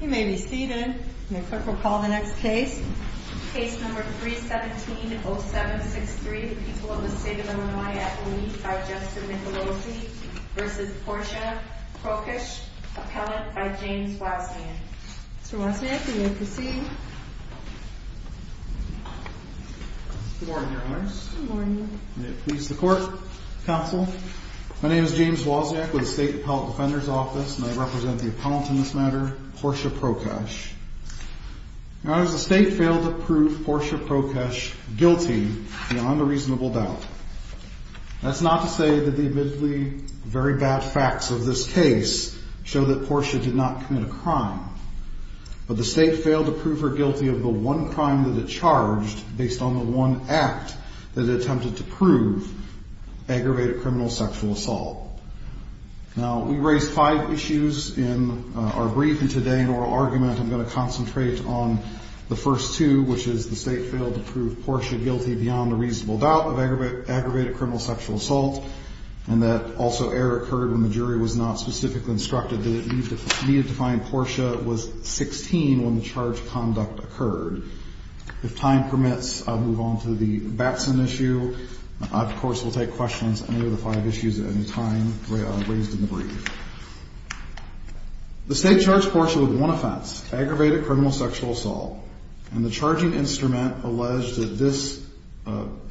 You may be seated. The clerk will call the next case. Case number 317-0763, the people of the state of Illinois at O'Neill by Justin Nicolosi v. Portia Prokesh, appellant by James Wozniak. Mr. Wozniak, you may proceed. Good morning, your honors. Good morning. May it please the court, counsel. My name is James Wozniak with the State Appellate Defender's Office and I represent the appellant in this matter, Portia Prokesh. Your honors, the state failed to prove Portia Prokesh guilty beyond a reasonable doubt. That's not to say that the admittedly very bad facts of this case show that Portia did not commit a crime, but the state failed to prove her guilty of the one crime that it charged based on the one act that it attempted to prove, aggravated criminal sexual assault. Now, we raised five issues in our brief, and today in oral argument I'm going to concentrate on the first two, which is the state failed to prove Portia guilty beyond a reasonable doubt of aggravated criminal sexual assault, and that also error occurred when the jury was not specifically instructed that it needed to find Portia was 16 when the charged conduct occurred. If time permits, I'll move on to the Batson issue. I, of course, will take questions on any of the five issues at any time raised in the brief. The state charged Portia with one offense, aggravated criminal sexual assault, and the charging instrument alleged that this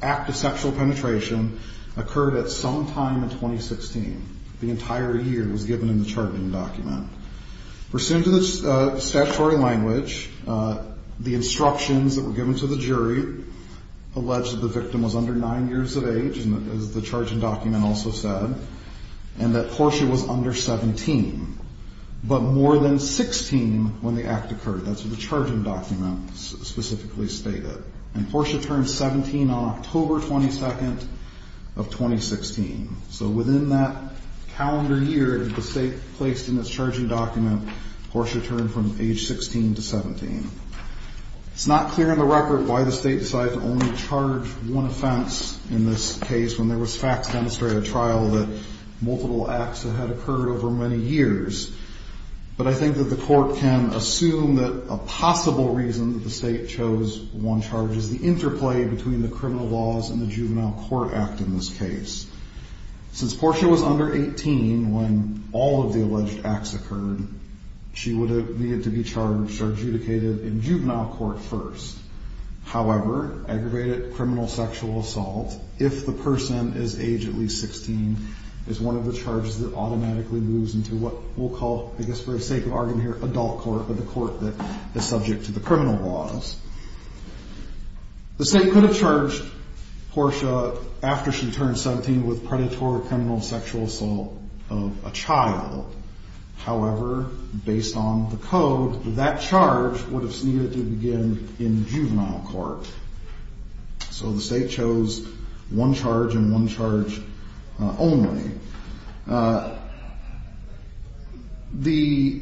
act of sexual penetration occurred at some time in 2016. The entire year was given in the charging document. Pursuant to the statutory language, the instructions that were given to the jury alleged that the victim was under nine years of age, as the charging document also said, and that Portia was under 17, but more than 16 when the act occurred. That's what the charging document specifically stated. And Portia turned 17 on October 22nd of 2016. So within that calendar year that the state placed in its charging document, Portia turned from age 16 to 17. It's not clear in the record why the state decided to only charge one offense in this case when there was facts to demonstrate a trial that multiple acts that had occurred over many years. But I think that the court can assume that a possible reason that the state chose one charge is the interplay between the criminal laws and the juvenile court act in this case. Since Portia was under 18 when all of the alleged acts occurred, she would have needed to be charged or adjudicated in juvenile court first. However, aggravated criminal sexual assault, if the person is age at least 16, is one of the charges that automatically moves into what we'll call, I guess for the sake of argument here, adult court, or the court that is subject to the criminal laws. The state could have charged Portia after she turned 17 with predatory criminal sexual assault of a child. However, based on the code, that charge would have needed to begin in juvenile court. So the state chose one charge and one charge only. The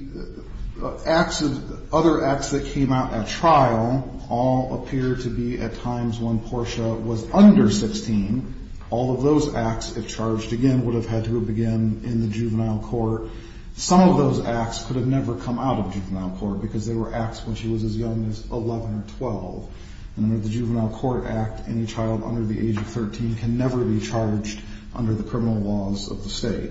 other acts that came out at trial all appear to be at times when Portia was under 16. All of those acts, if charged again, would have had to begin in the juvenile court. Some of those acts could have never come out of juvenile court because they were acts when she was as young as 11 or 12. And under the juvenile court act, any child under the age of 13 can never be charged under the criminal laws of the state.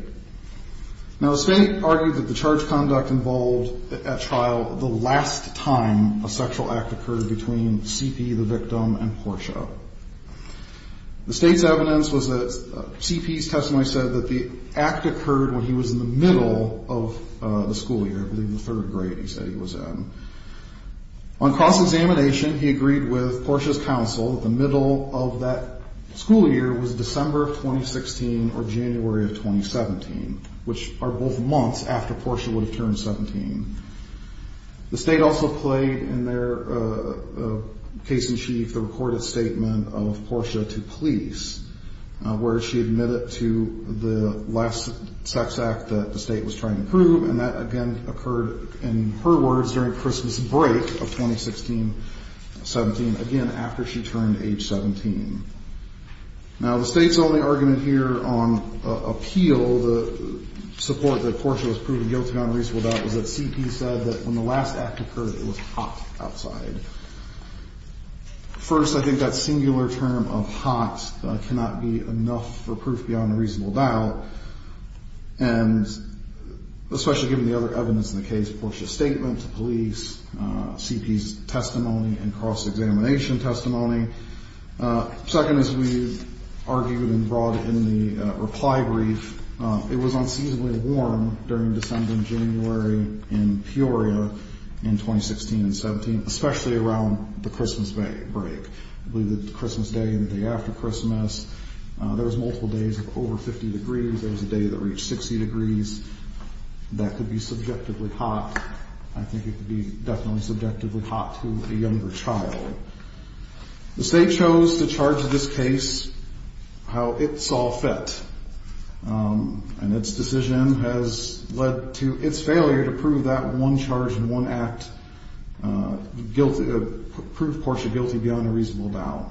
Now, the state argued that the charge conduct involved at trial the last time a sexual act occurred between CP, the victim, and Portia. The state's evidence was that CP's testimony said that the act occurred when he was in the middle of the school year, I believe the third grade he said he was in. On cross-examination, he agreed with Portia's counsel that the middle of that school year was December of 2016 or January of 2017, which are both months after Portia would have turned 17. The state also played in their case-in-chief the recorded statement of Portia to police, where she admitted to the last sex act that the state was trying to prove. And that again occurred, in her words, during Christmas break of 2016-17, again after she turned age 17. Now, the state's only argument here on appeal, the support that Portia was proven guilty on a reasonable doubt, was that CP said that when the last act occurred, it was hot outside. First, I think that singular term of hot cannot be enough for proof beyond a reasonable doubt. And especially given the other evidence in the case, Portia's statement to police, CP's testimony, and cross-examination testimony. Second, as we've argued and brought in the reply brief, it was unseasonably warm during December and January in Peoria in 2016-17, especially around the Christmas break. I believe that the Christmas day and the day after Christmas, there was multiple days of over 50 degrees. There was a day that reached 60 degrees. That could be subjectively hot. I think it could be definitely subjectively hot to a younger child. The state chose to charge this case how it saw fit. And its decision has led to its failure to prove that one charge and one act guilty, prove Portia guilty beyond a reasonable doubt.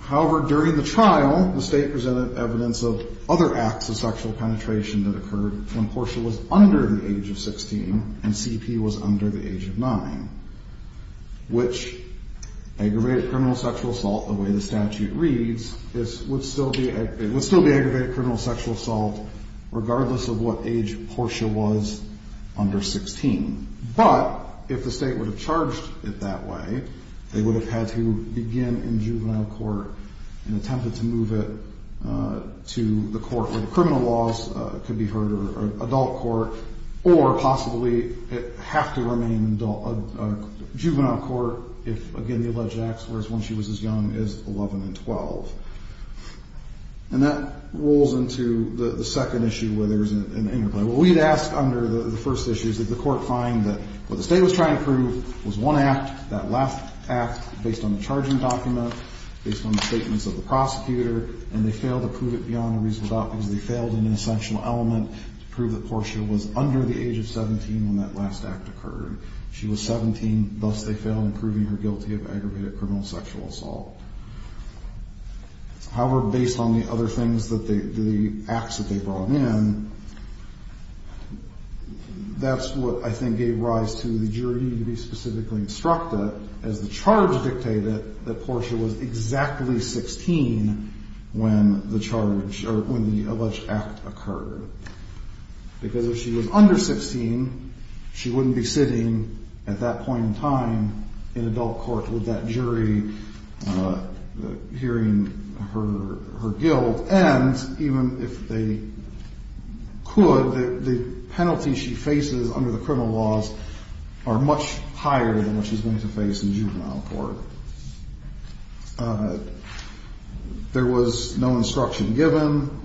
However, during the trial, the state presented evidence of other acts of sexual penetration that occurred when Portia was under the age of 16 and CP was under the age of 9. Which aggravated criminal sexual assault, the way the statute reads, would still be aggravated criminal sexual assault regardless of what age Portia was under 16. But if the state would have charged it that way, they would have had to begin in juvenile court and attempted to move it to the court where the criminal laws could be heard, or adult court, or possibly it would have to remain in juvenile court if, again, the alleged acts were as when she was as young as 11 and 12. And that rolls into the second issue where there was an interplay. What we had asked under the first issue is that the court find that what the state was trying to prove was one act, that last act, based on the charging document, based on the statements of the prosecutor, and they failed to prove it beyond a reasonable doubt because they failed in an essential element to prove that Portia was under the age of 17 when that last act occurred. She was 17, thus they failed in proving her guilty of aggravated criminal sexual assault. However, based on the other things that they, the acts that they brought in, that's what I think gave rise to the jury to be specifically instructed, as the charge dictated, that Portia was exactly 16 when the charge, or when the alleged act occurred. Because if she was under 16, she wouldn't be sitting at that point in time in adult court with that jury hearing her guilt, and even if they could, the penalties she faces under the criminal laws are much higher than what she's going to face in juvenile court. There was no instruction given.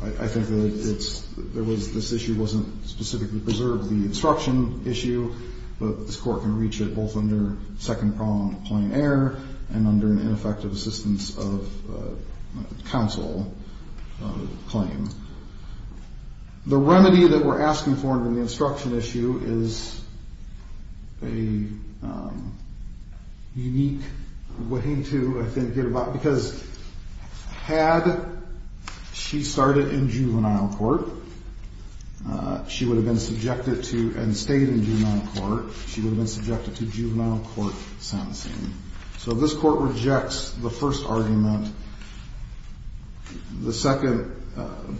I think that it's, there was, this issue wasn't specifically preserved, the instruction issue, but this court can reach it both under second prong claim error and under an ineffective assistance of counsel claim. The remedy that we're asking for in the instruction issue is a unique way to, I think, get about, because had she started in juvenile court, she would have been subjected to, and stayed in juvenile court, she would have been subjected to juvenile court sentencing. So this court rejects the first argument, the second,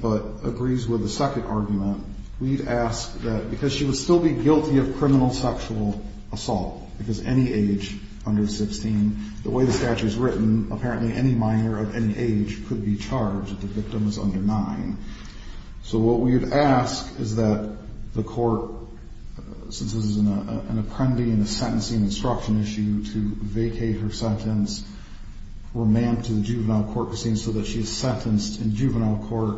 but agrees with the second argument. We'd ask that, because she would still be guilty of criminal sexual assault, because any age under 16, the way the statute is written, apparently any minor of any age could be charged if the victim is under 9. So what we would ask is that the court, since this is an apprendee in a sentencing instruction issue, to vacate her sentence, remand to the juvenile court proceeding so that she is sentenced in juvenile court,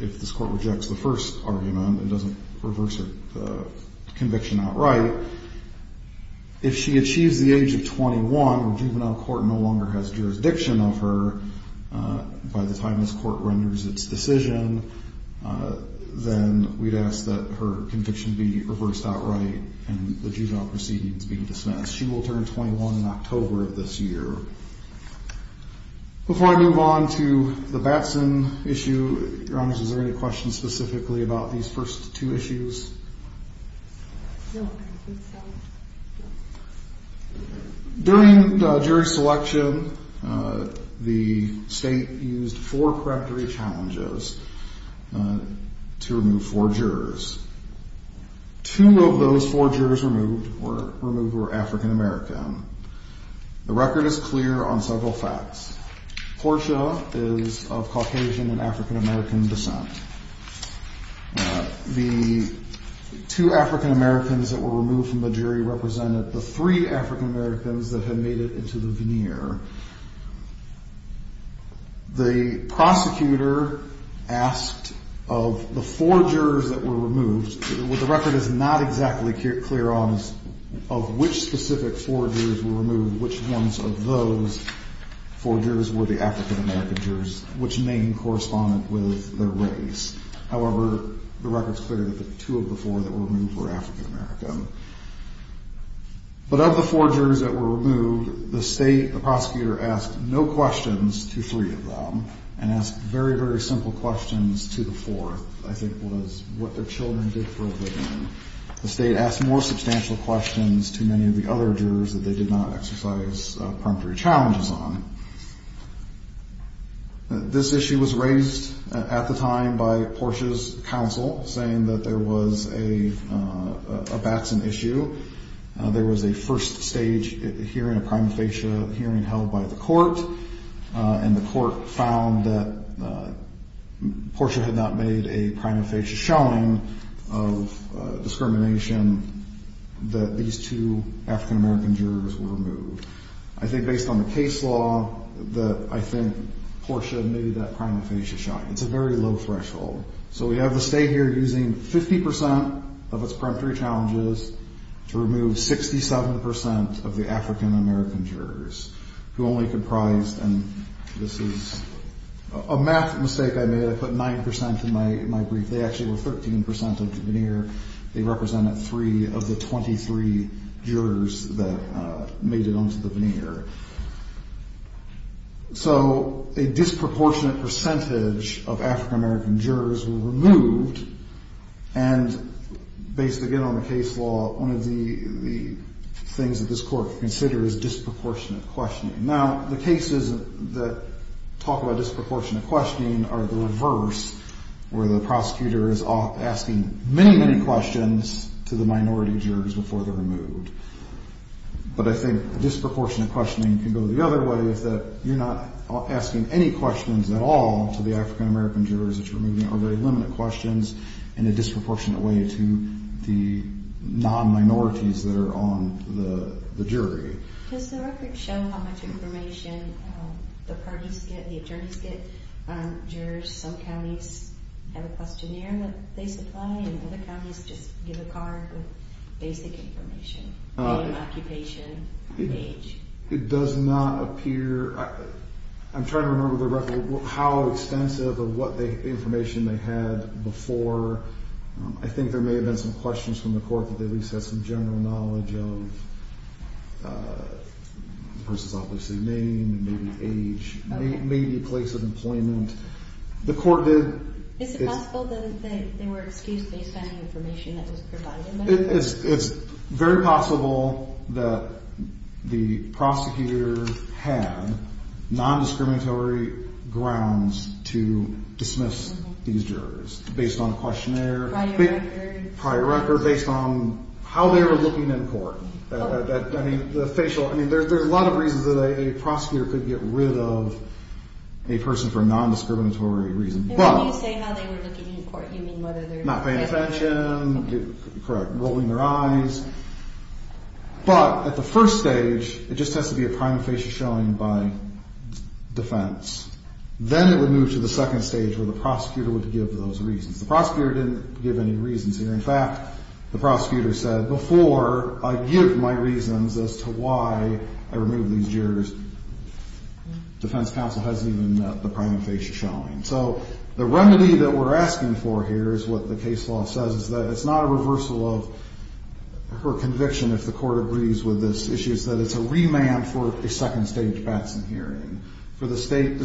if this court rejects the first argument, it doesn't reverse her conviction outright. If she achieves the age of 21, the juvenile court no longer has jurisdiction of her by the time this court renders its decision, then we'd ask that her conviction be reversed outright and the juvenile proceedings be dismissed. She will turn 21 in October of this year. Before I move on to the Batson issue, Your Honors, is there any questions specifically about these first two issues? During jury selection, the state used four correctory challenges to remove four jurors. Two of those four jurors removed were African American. The record is clear on several facts. Portia is of Caucasian and African American descent. The two African Americans that were removed from the jury represented the three African Americans that had made it into the veneer. The prosecutor asked of the four jurors that were removed, what the record is not exactly clear on is of which specific four jurors were removed, which ones of those four jurors were the African American jurors, which name corresponded with their race. However, the record is clear that the two of the four that were removed were African American. But of the four jurors that were removed, the state, the prosecutor asked no questions to three of them and asked very, very simple questions to the fourth, I think was what their children did for a living. The state asked more substantial questions to many of the other jurors that they did not exercise contrary challenges on. This issue was raised at the time by Portia's counsel, saying that there was a Batson issue. There was a first stage hearing, a prima facie hearing held by the court, and the court found that Portia had not made a prima facie showing of discrimination that these two African American jurors were removed. I think based on the case law that I think Portia made that prima facie shot. It's a very low threshold. So we have the state here using 50 percent of its peremptory challenges to remove 67 percent of the African American jurors, who only comprised, and this is a math mistake I made. I put 9 percent in my brief. They actually were 13 percent of the veneer. They represented three of the 23 jurors that made it onto the veneer. So a disproportionate percentage of African American jurors were removed, and based, again, on the case law, one of the things that this court considers disproportionate questioning. Now, the cases that talk about disproportionate questioning are the reverse, where the prosecutor is asking many, many questions to the minority jurors before they're removed. But I think disproportionate questioning can go the other way, is that you're not asking any questions at all to the African American jurors that you're removing, or very limited questions in a disproportionate way to the non-minorities that are on the jury. Does the record show how much information the parties get, the attorneys get, jurors? Some counties have a questionnaire that they supply, and other counties just give a card with basic information, name, occupation, age. It does not appear. I'm trying to remember how extensive of what the information they had before. I think there may have been some questions from the court that they at least had some general knowledge of the person's obviously name, maybe age, maybe place of employment. The court did. Is it possible that they were excused based on the information that was provided? It's very possible that the prosecutor had non-discriminatory grounds to dismiss these jurors based on a questionnaire. Prior record. Prior record, based on how they were looking in court. I mean, the facial, I mean, there's a lot of reasons that a prosecutor could get rid of a person for non-discriminatory reasons. And when you say how they were looking in court, you mean whether they were not paying attention? Correct. Rolling their eyes. But at the first stage, it just has to be a prime facial showing by defense. Then it would move to the second stage where the prosecutor would give those reasons. The prosecutor didn't give any reasons here. In fact, the prosecutor said, before I give my reasons as to why I removed these jurors, defense counsel hasn't even met the prime facial showing. So the remedy that we're asking for here is what the case law says, is that it's not a reversal of her conviction if the court agrees with this issue. It's that it's a remand for a second stage Batson hearing. For the state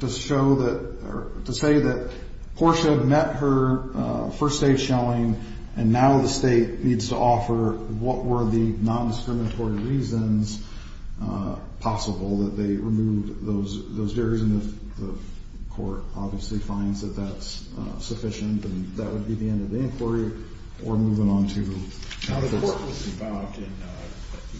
to show that, or to say that Portia met her first stage showing, and now the state needs to offer what were the non-discriminatory reasons possible that they removed those jurors. And if the court obviously finds that that's sufficient, then that would be the end of the inquiry. We're moving on to... Now, the court was involved in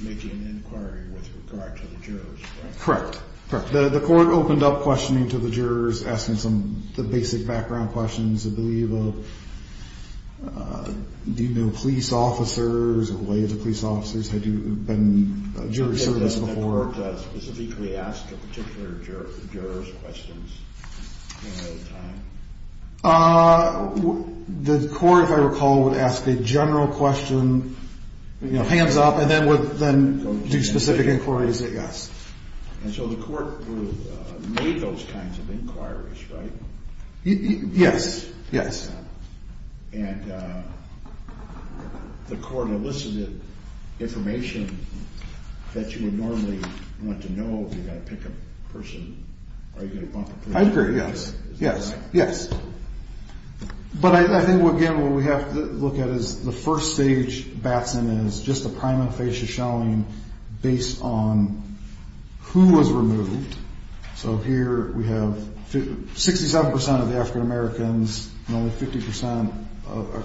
making an inquiry with regard to the jurors, right? Correct. Correct. The court opened up questioning to the jurors, asking some basic background questions, I believe, of do you know police officers or related to police officers? Had you been in jury service before? Did the court specifically ask the particular jurors questions at any other time? The court, if I recall, would ask a general question, you know, hands up, and then do specific inquiries, I guess. And so the court made those kinds of inquiries, right? Yes. Yes. And the court elicited information that you would normally want to know if you're going to pick a person or you're going to bump a person. I agree. Yes. Yes. Yes. But I think, again, what we have to look at is the first stage, Batson, is just a prima facie showing based on who was removed. So here we have 67 percent of the African-Americans and only 50 percent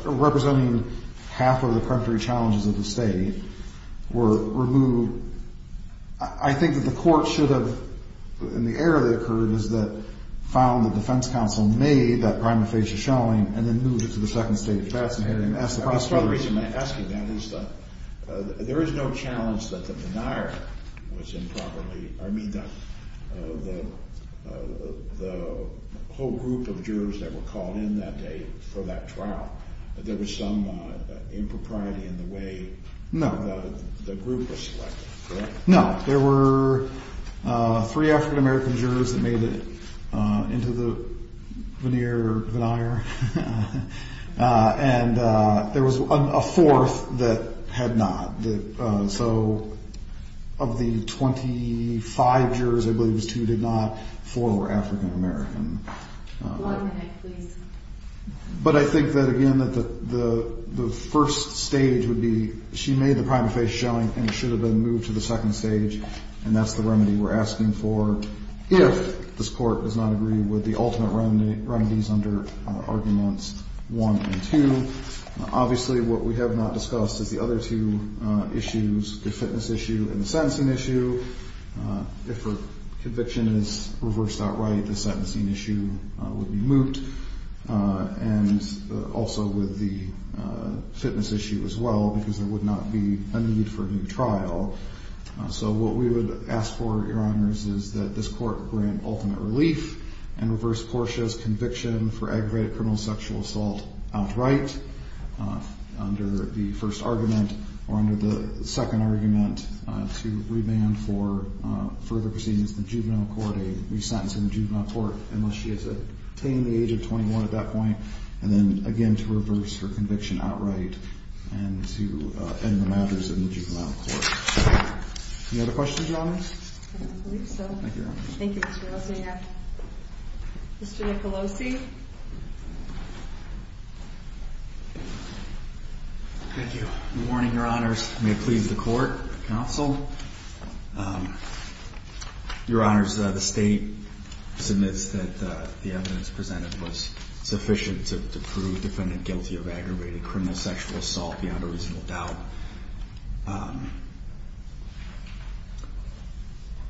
representing half of the country challenges of the state were removed. I think that the court should have, in the era that occurred, is that found the defense counsel made that prima facie showing and then moved it to the second stage. That's the reason I'm asking that is that there is no challenge that the denier was improperly, I mean, the whole group of jurors that were called in that day for that trial. There was some impropriety in the way the group was selected. No, there were three African-American jurors that made it into the veneer denier. And there was a fourth that had not. So of the 25 jurors, I believe it was two did not. Four were African-American. But I think that, again, that the first stage would be she made the prima facie showing and should have been moved to the second stage. And that's the remedy we're asking for. If this court does not agree with the ultimate remedy, remedies under arguments one and two. Obviously, what we have not discussed is the other two issues, the fitness issue and the sentencing issue. If a conviction is reversed outright, the sentencing issue would be moved. And also with the fitness issue as well, because there would not be a need for a new trial. So what we would ask for, Your Honors, is that this court grant ultimate relief and reverse Portia's conviction for aggravated criminal sexual assault outright. Under the first argument or under the second argument to remand for further proceedings in the juvenile court. A re-sentence in the juvenile court unless she has attained the age of 21 at that point. And then again to reverse her conviction outright and to end the matters in the juvenile court. Any other questions, Your Honors? I believe so. Thank you, Your Honors. Thank you, Mr. Rosanoff. Mr. Nicolosi? Thank you. Good morning, Your Honors. May it please the court, counsel. Your Honors, the state submits that the evidence presented was sufficient to prove the defendant guilty of aggravated criminal sexual assault beyond a reasonable doubt.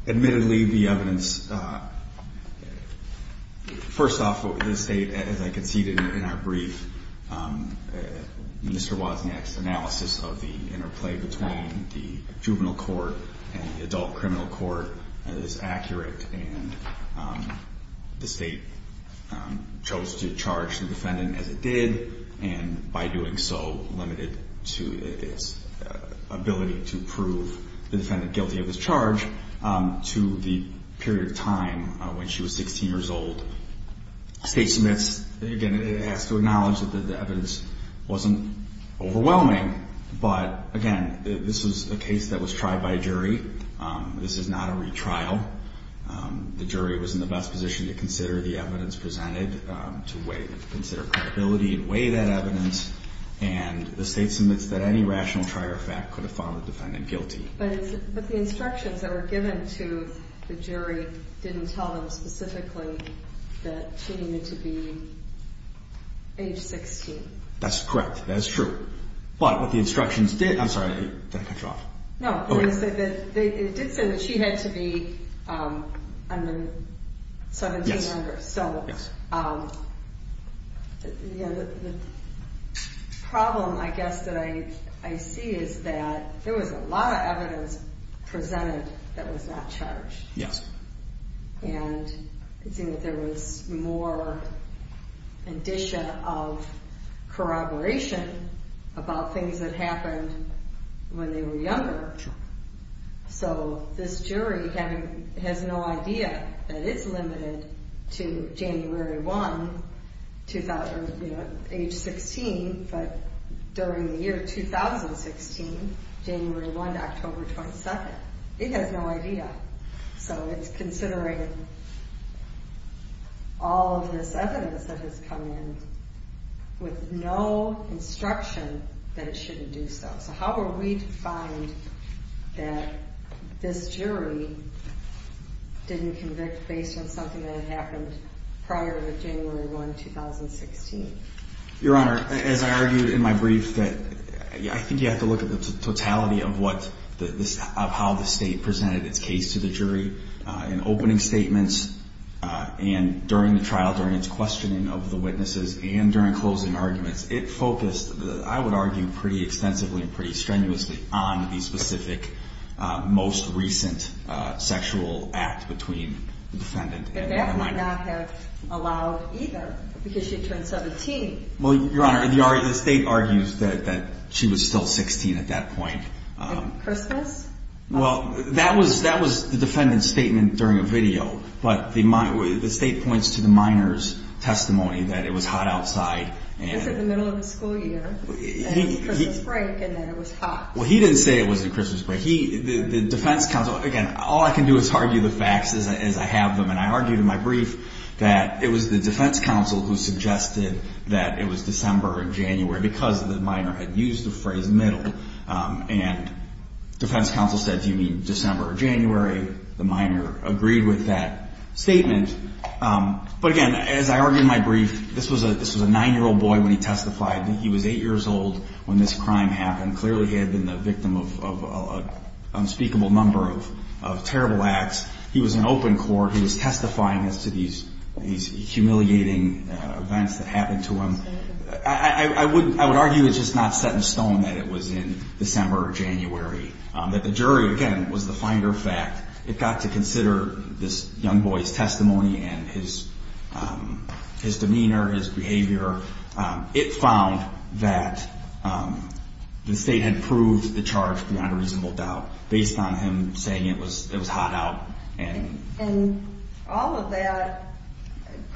Admittedly, the evidence, first off, the state, as I conceded in our brief, Mr. Wozniak's analysis of the interplay between the juvenile court and the adult criminal court is accurate. And the state chose to charge the defendant as it did. And by doing so, limited to its ability to prove the defendant guilty of this charge to the period of time when she was 16 years old. The state submits, again, it has to acknowledge that the evidence wasn't overwhelming. But again, this was a case that was tried by a jury. This is not a retrial. The jury was in the best position to consider the evidence presented, to weigh, consider credibility and weigh that evidence. And the state submits that any rational trier fact could have found the defendant guilty. But the instructions that were given to the jury didn't tell them specifically that she needed to be age 16. That's correct. That's true. But what the instructions did, I'm sorry, did I cut you off? No. It did say that she had to be 17 years younger. Yes. So the problem, I guess, that I see is that there was a lot of evidence presented that was not charged. Yes. And there was more indicia of corroboration about things that happened when they were younger. Sure. So this jury has no idea that it's limited to January 1, age 16, but during the year 2016, January 1 to October 22. It has no idea. So it's considering all of this evidence that has come in with no instruction that it shouldn't do so. So how were we to find that this jury didn't convict based on something that had happened prior to January 1, 2016? Your Honor, as I argued in my brief, I think you have to look at the totality of how the state presented its case to the jury. In opening statements and during the trial, during its questioning of the witnesses and during closing arguments, it focused, I would argue, pretty extensively and pretty strenuously on the specific, most recent sexual act between the defendant and the defendant. And that might not have allowed either because she had turned 17. Well, Your Honor, the state argues that she was still 16 at that point. At Christmas? Well, that was the defendant's statement during a video, but the state points to the minor's testimony that it was hot outside. It was in the middle of the school year, at Christmas break, and that it was hot. Well, he didn't say it was at Christmas break. The defense counsel, again, all I can do is argue the facts as I have them, and I argued in my brief that it was the defense counsel who suggested that it was December or January because the minor had used the phrase middle. And defense counsel said, do you mean December or January? The minor agreed with that statement. But again, as I argued in my brief, this was a 9-year-old boy when he testified. He was 8 years old when this crime happened. Clearly he had been the victim of an unspeakable number of terrible acts. He was in open court. He was testifying as to these humiliating events that happened to him. I would argue it's just not set in stone that it was in December or January, that the jury, again, was the finder of fact. It got to consider this young boy's testimony and his demeanor, his behavior. It found that the state had proved the charge beyond a reasonable doubt based on him saying it was hot out. And all of that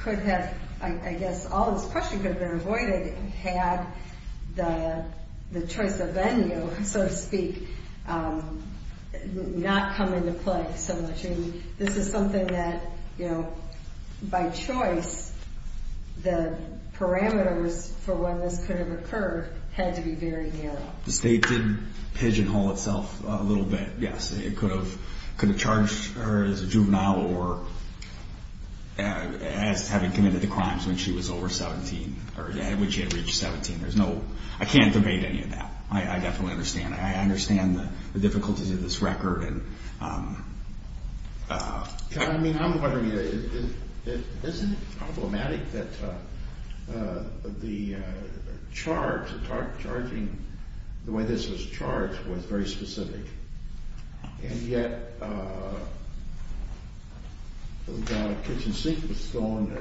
could have, I guess, all this question could have been avoided had the choice of venue, so to speak, not come into play so much. I mean, this is something that, you know, by choice, the parameters for when this could have occurred had to be very narrow. The state did pigeonhole itself a little bit, yes. It could have charged her as a juvenile or as having committed the crimes when she was over 17 or when she had reached 17. I can't debate any of that. I definitely understand. I understand the difficulties of this record. I mean, I'm wondering, isn't it problematic that the charge, the way this was charged, was very specific, and yet the kitchen sink was thrown.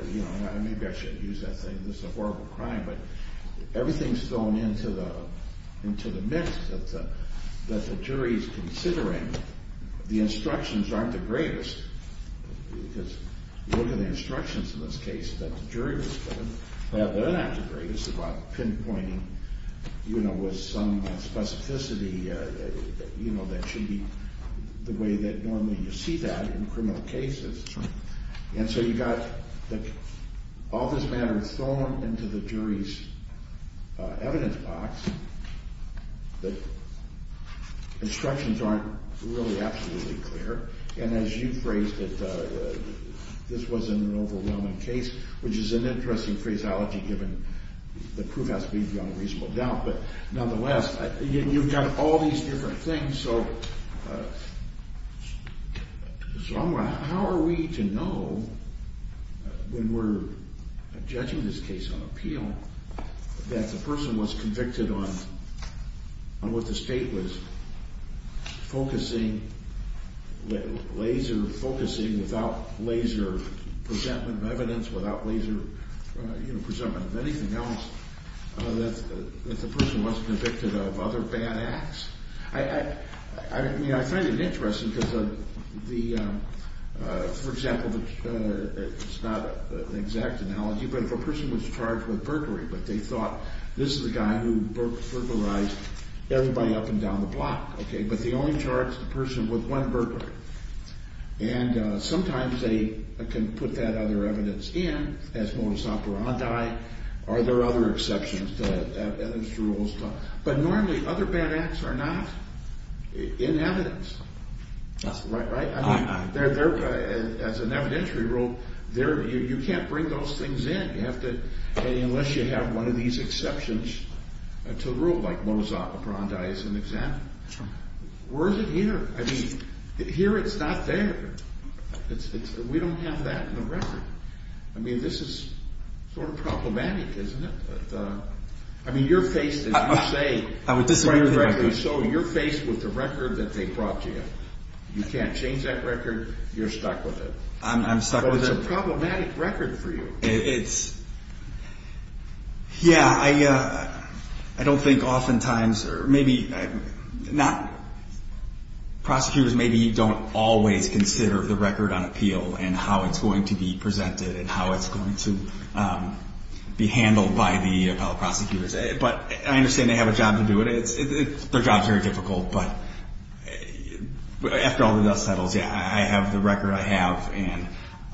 Maybe I shouldn't use that saying this is a horrible crime. But everything's thrown into the mix that the jury's considering. The instructions aren't the greatest because look at the instructions in this case that the jury was given. They're not the greatest about pinpointing, you know, with some specificity, you know, that should be the way that normally you see that in criminal cases. And so you've got all this matter thrown into the jury's evidence box. The instructions aren't really absolutely clear. And as you phrased it, this was an overwhelming case, which is an interesting phraseology given the proof has to be beyond reasonable doubt. But nonetheless, you've got all these different things. And so how are we to know when we're judging this case on appeal that the person was convicted on what the state was focusing, laser focusing, without laser presentment of evidence, without laser, you know, presentment of anything else, that the person wasn't convicted of other bad acts? I mean, I find it interesting because of the, for example, it's not an exact analogy, but if a person was charged with burglary, but they thought this is a guy who burglarized everybody up and down the block, okay, but they only charged the person with one burglary. And sometimes they can put that other evidence in as modus operandi. Are there other exceptions to those rules? But normally other bad acts are not in evidence, right? As an evidentiary rule, you can't bring those things in unless you have one of these exceptions to the rule, like modus operandi is an example. Where is it here? I mean, here it's not there. We don't have that in the record. I mean, this is sort of problematic, isn't it? I mean, you're faced, as you say, so you're faced with the record that they brought you. You can't change that record. You're stuck with it. I'm stuck with it. But it's a problematic record for you. Yeah, I don't think oftentimes or maybe not prosecutors maybe don't always consider the record on appeal and how it's going to be presented and how it's going to be handled by the appellate prosecutors. But I understand they have a job to do it. Their job is very difficult. But after all the dust settles, yeah, I have the record I have. And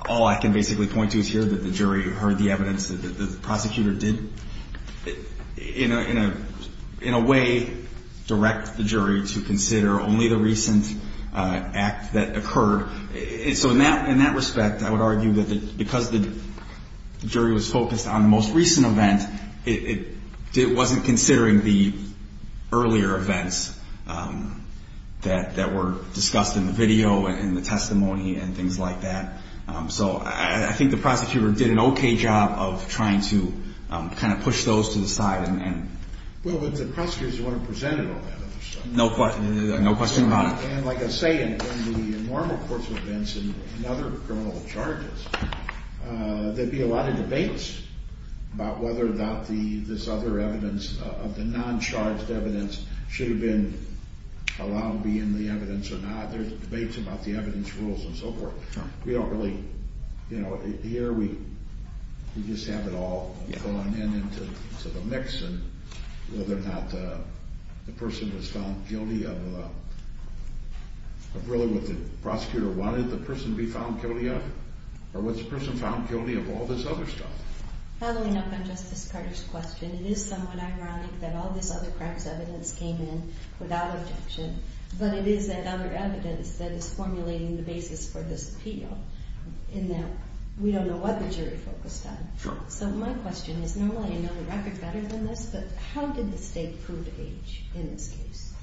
all I can basically point to is here that the jury heard the evidence that the prosecutor did, in a way, direct the jury to consider only the recent act that occurred. So in that respect, I would argue that because the jury was focused on the most recent event, it wasn't considering the earlier events that were discussed in the video and the testimony and things like that. So I think the prosecutor did an okay job of trying to kind of push those to the side. Well, if the prosecutors want to present it all that other stuff. No question about it. And like I say, in the normal course of events and other criminal charges, there'd be a lot of debates about whether or not this other evidence of the non-charged evidence should have been allowed to be in the evidence or not. There's debates about the evidence rules and so forth. We don't really, you know, here we just have it all going into the mix and whether or not the person was found guilty of really what the prosecutor wanted the person to be found guilty of or was the person found guilty of all this other stuff. Following up on Justice Carter's question, it is somewhat ironic that all this other cracks evidence came in without objection. But it is that other evidence that is formulating the basis for this appeal in that we don't know what the jury focused on. So my question is, normally I know the record better than this, but how did the state prove age in this case?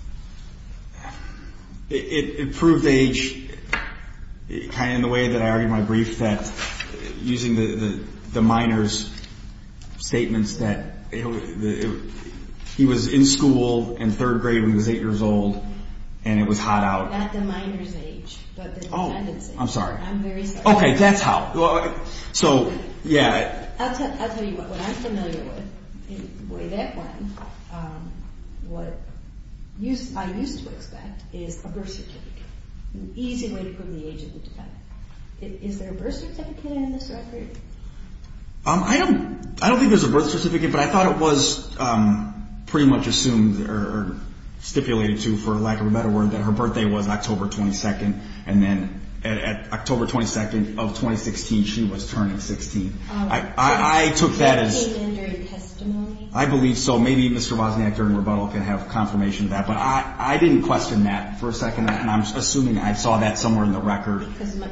It proved age kind of in the way that I argued my brief that using the minor's statements that he was in school in third grade when he was eight years old and it was hot out. Not the minor's age, but the defendant's age. I'm sorry. I'm very sorry. Okay, that's how. So, yeah. I'll tell you what I'm familiar with. In the way that went, what I used to expect is a birth certificate, an easy way to prove the age of the defendant. Is there a birth certificate in this record? I don't think there's a birth certificate, but I thought it was pretty much assumed or stipulated to for lack of a better word that her birthday was October 22nd. And then at October 22nd of 2016, she was turning 16. I took that as. I believe so. Maybe Mr. Wozniak during rebuttal can have confirmation of that, but I didn't question that for a second, and I'm assuming I saw that somewhere in the record. Because the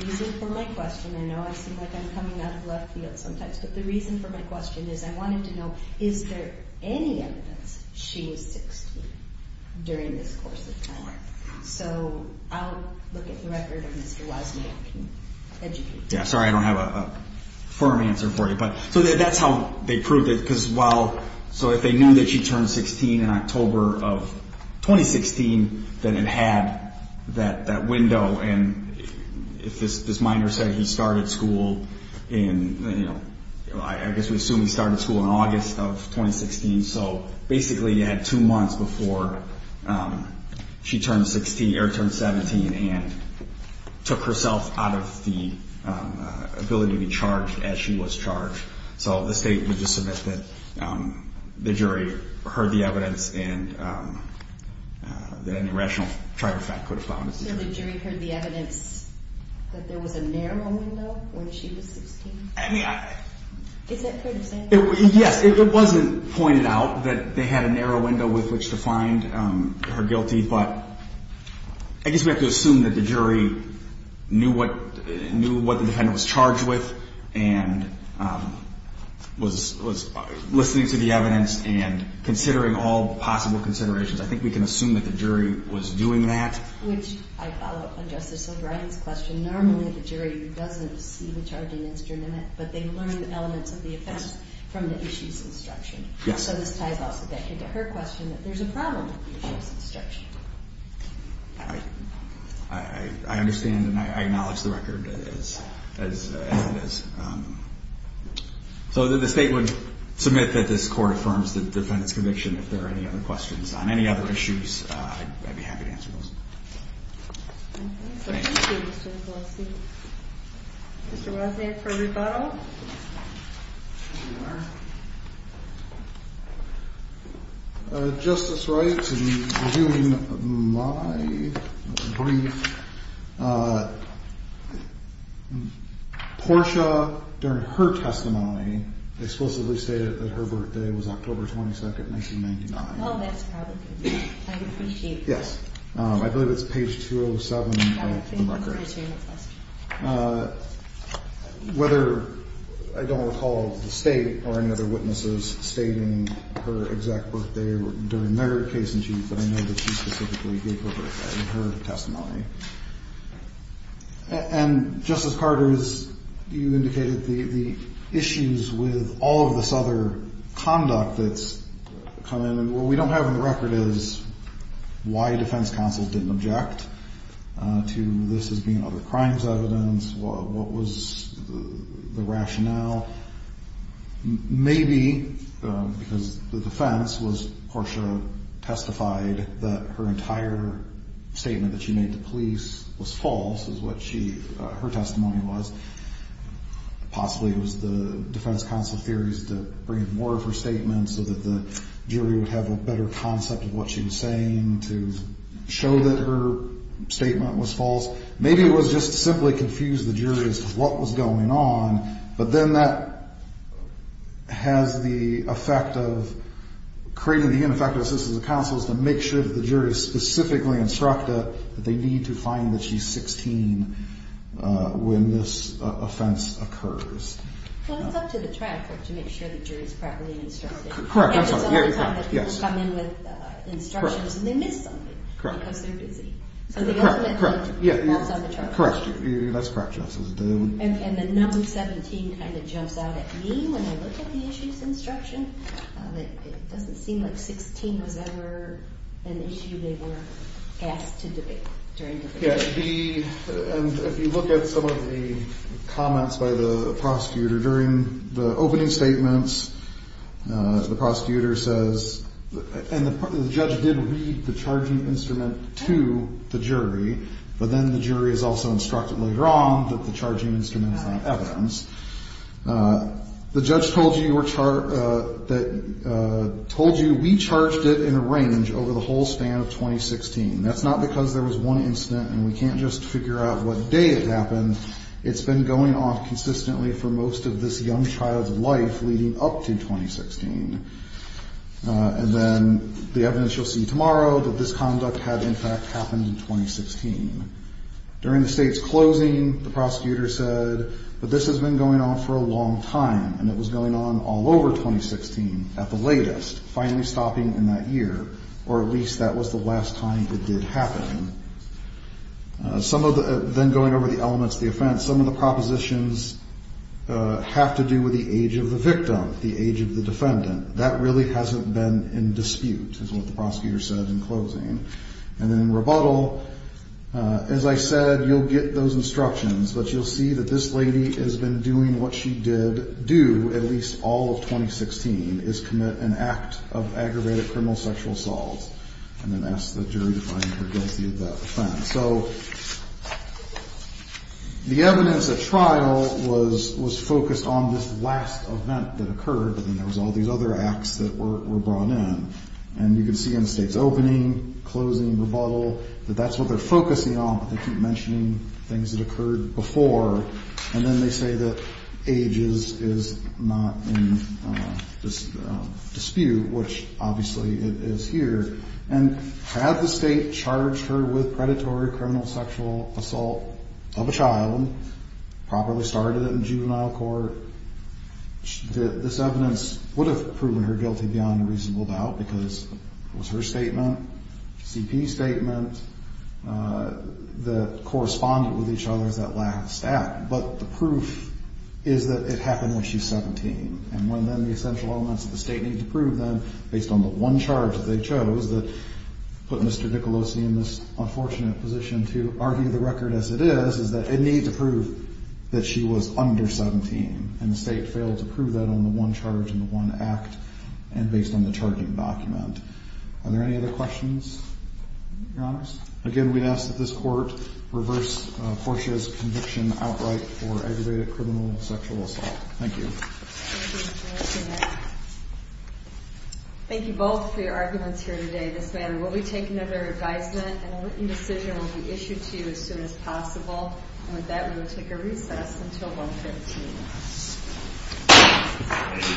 reason for my question, I know I seem like I'm coming out of left field sometimes, but the reason for my question is I wanted to know, is there any evidence she was 16 during this course of time? So, I'll look at the record of Mr. Wozniak and educate you. Yeah, sorry, I don't have a firm answer for you. So, that's how they proved it. Because while. So, if they knew that she turned 16 in October of 2016, then it had that window. And if this minor said he started school in, I guess we assume he started school in August of 2016. So, basically, you had two months before she turned 16 or turned 17 and took herself out of the ability to be charged as she was charged. So, the state would just submit that the jury heard the evidence and that any rational trifecta could have found. So, the jury heard the evidence that there was a narrow window when she was 16? I mean, I. Is that fair to say? Yes, it wasn't pointed out that they had a narrow window with which to find her guilty, but I guess we have to assume that the jury knew what the defendant was charged with and was listening to the evidence and considering all possible considerations. I think we can assume that the jury was doing that. Which I follow up on Justice O'Brien's question. Normally, the jury doesn't see the charging instrument in it, but they learn the elements of the offense from the issues instruction. Yes. So, this ties also back into her question that there's a problem with the issues instruction. I understand and I acknowledge the record as it is. So, the state would submit that this court affirms the defendant's conviction. If there are any other questions on any other issues, I'd be happy to answer those. Thank you, Mr. Gillespie. Mr. Wozniak for rebuttal. Justice Wright, in doing my brief, Portia, during her testimony, explicitly stated that her birthday was October 22, 1999. Oh, that's probably good. I appreciate that. Yes. I believe it's page 207 of the record. Whether I don't recall the state or any other witnesses stating her exact birthday during their case in chief, but I know that she specifically gave her birthday in her testimony. And, Justice Carter, you indicated the issues with all of this other conduct that's come in. What we don't have in the record is why defense counsel didn't object to this as being other crimes evidence. What was the rationale? Maybe because the defense was, Portia testified that her entire statement that she made to police was false, is what her testimony was. Possibly it was the defense counsel's theories to bring in more of her statements so that the jury would have a better concept of what she was saying to show that her statement was false. Maybe it was just to simply confuse the jury as to what was going on. But then that has the effect of creating the ineffective assistance of counsels to make sure that the jury is specifically instructed that they need to find that she's 16 when this offense occurs. Well, it's up to the traffic to make sure the jury is properly instructed. Correct. I'm sorry. It's the only time that people come in with instructions and they miss something because they're busy. Correct. Correct. So the ultimate fault is on the traffic. Correct. That's correct, Justice. And the number 17 kind of jumps out at me when I look at the issue's instruction. It doesn't seem like 16 was ever an issue they were asked to debate during the hearing. Yeah, and if you look at some of the comments by the prosecutor during the opening statements, the prosecutor says, and the judge did read the charging instrument to the jury, but then the jury is also instructed later on that the charging instrument is not evidence. The judge told you we charged it in a range over the whole span of 2016. That's not because there was one incident and we can't just figure out what day it happened. It's been going on consistently for most of this young child's life leading up to 2016. And then the evidence you'll see tomorrow that this conduct had in fact happened in 2016. During the state's closing, the prosecutor said, but this has been going on for a long time and it was going on all over 2016 at the latest, finally stopping in that year, or at least that was the last time it did happen. Then going over the elements of the offense, some of the propositions have to do with the age of the victim, the age of the defendant. That really hasn't been in dispute, is what the prosecutor said in closing. And then in rebuttal, as I said, you'll get those instructions, but you'll see that this lady has been doing what she did do at least all of 2016, is commit an act of aggravated criminal sexual assault. And then ask the jury to find her guilty of that offense. So the evidence at trial was focused on this last event that occurred, and there was all these other acts that were brought in. And you can see in the state's opening, closing, rebuttal, that that's what they're focusing on, but they keep mentioning things that occurred before. And then they say that age is not in dispute, which obviously it is here. And had the state charged her with predatory criminal sexual assault of a child, properly started it in juvenile court, this evidence would have proven her guilty beyond a reasonable doubt because it was her statement, C.P.'s statement, that corresponded with each other, that last act. But the proof is that it happened when she's 17. And when then the essential elements of the state need to prove them, based on the one charge that they chose that put Mr. Nicolosi in this unfortunate position to argue the record as it is, is that it needs to prove that she was under 17. And the state failed to prove that on the one charge and the one act, and based on the charging document. Are there any other questions, Your Honors? Again, we ask that this court reverse Portia's conviction outright for aggravated criminal sexual assault. Thank you. Thank you both for your arguments here today. This matter will be taken under advisement and a written decision will be issued to you as soon as possible. And with that, we will take a recess until 1.15.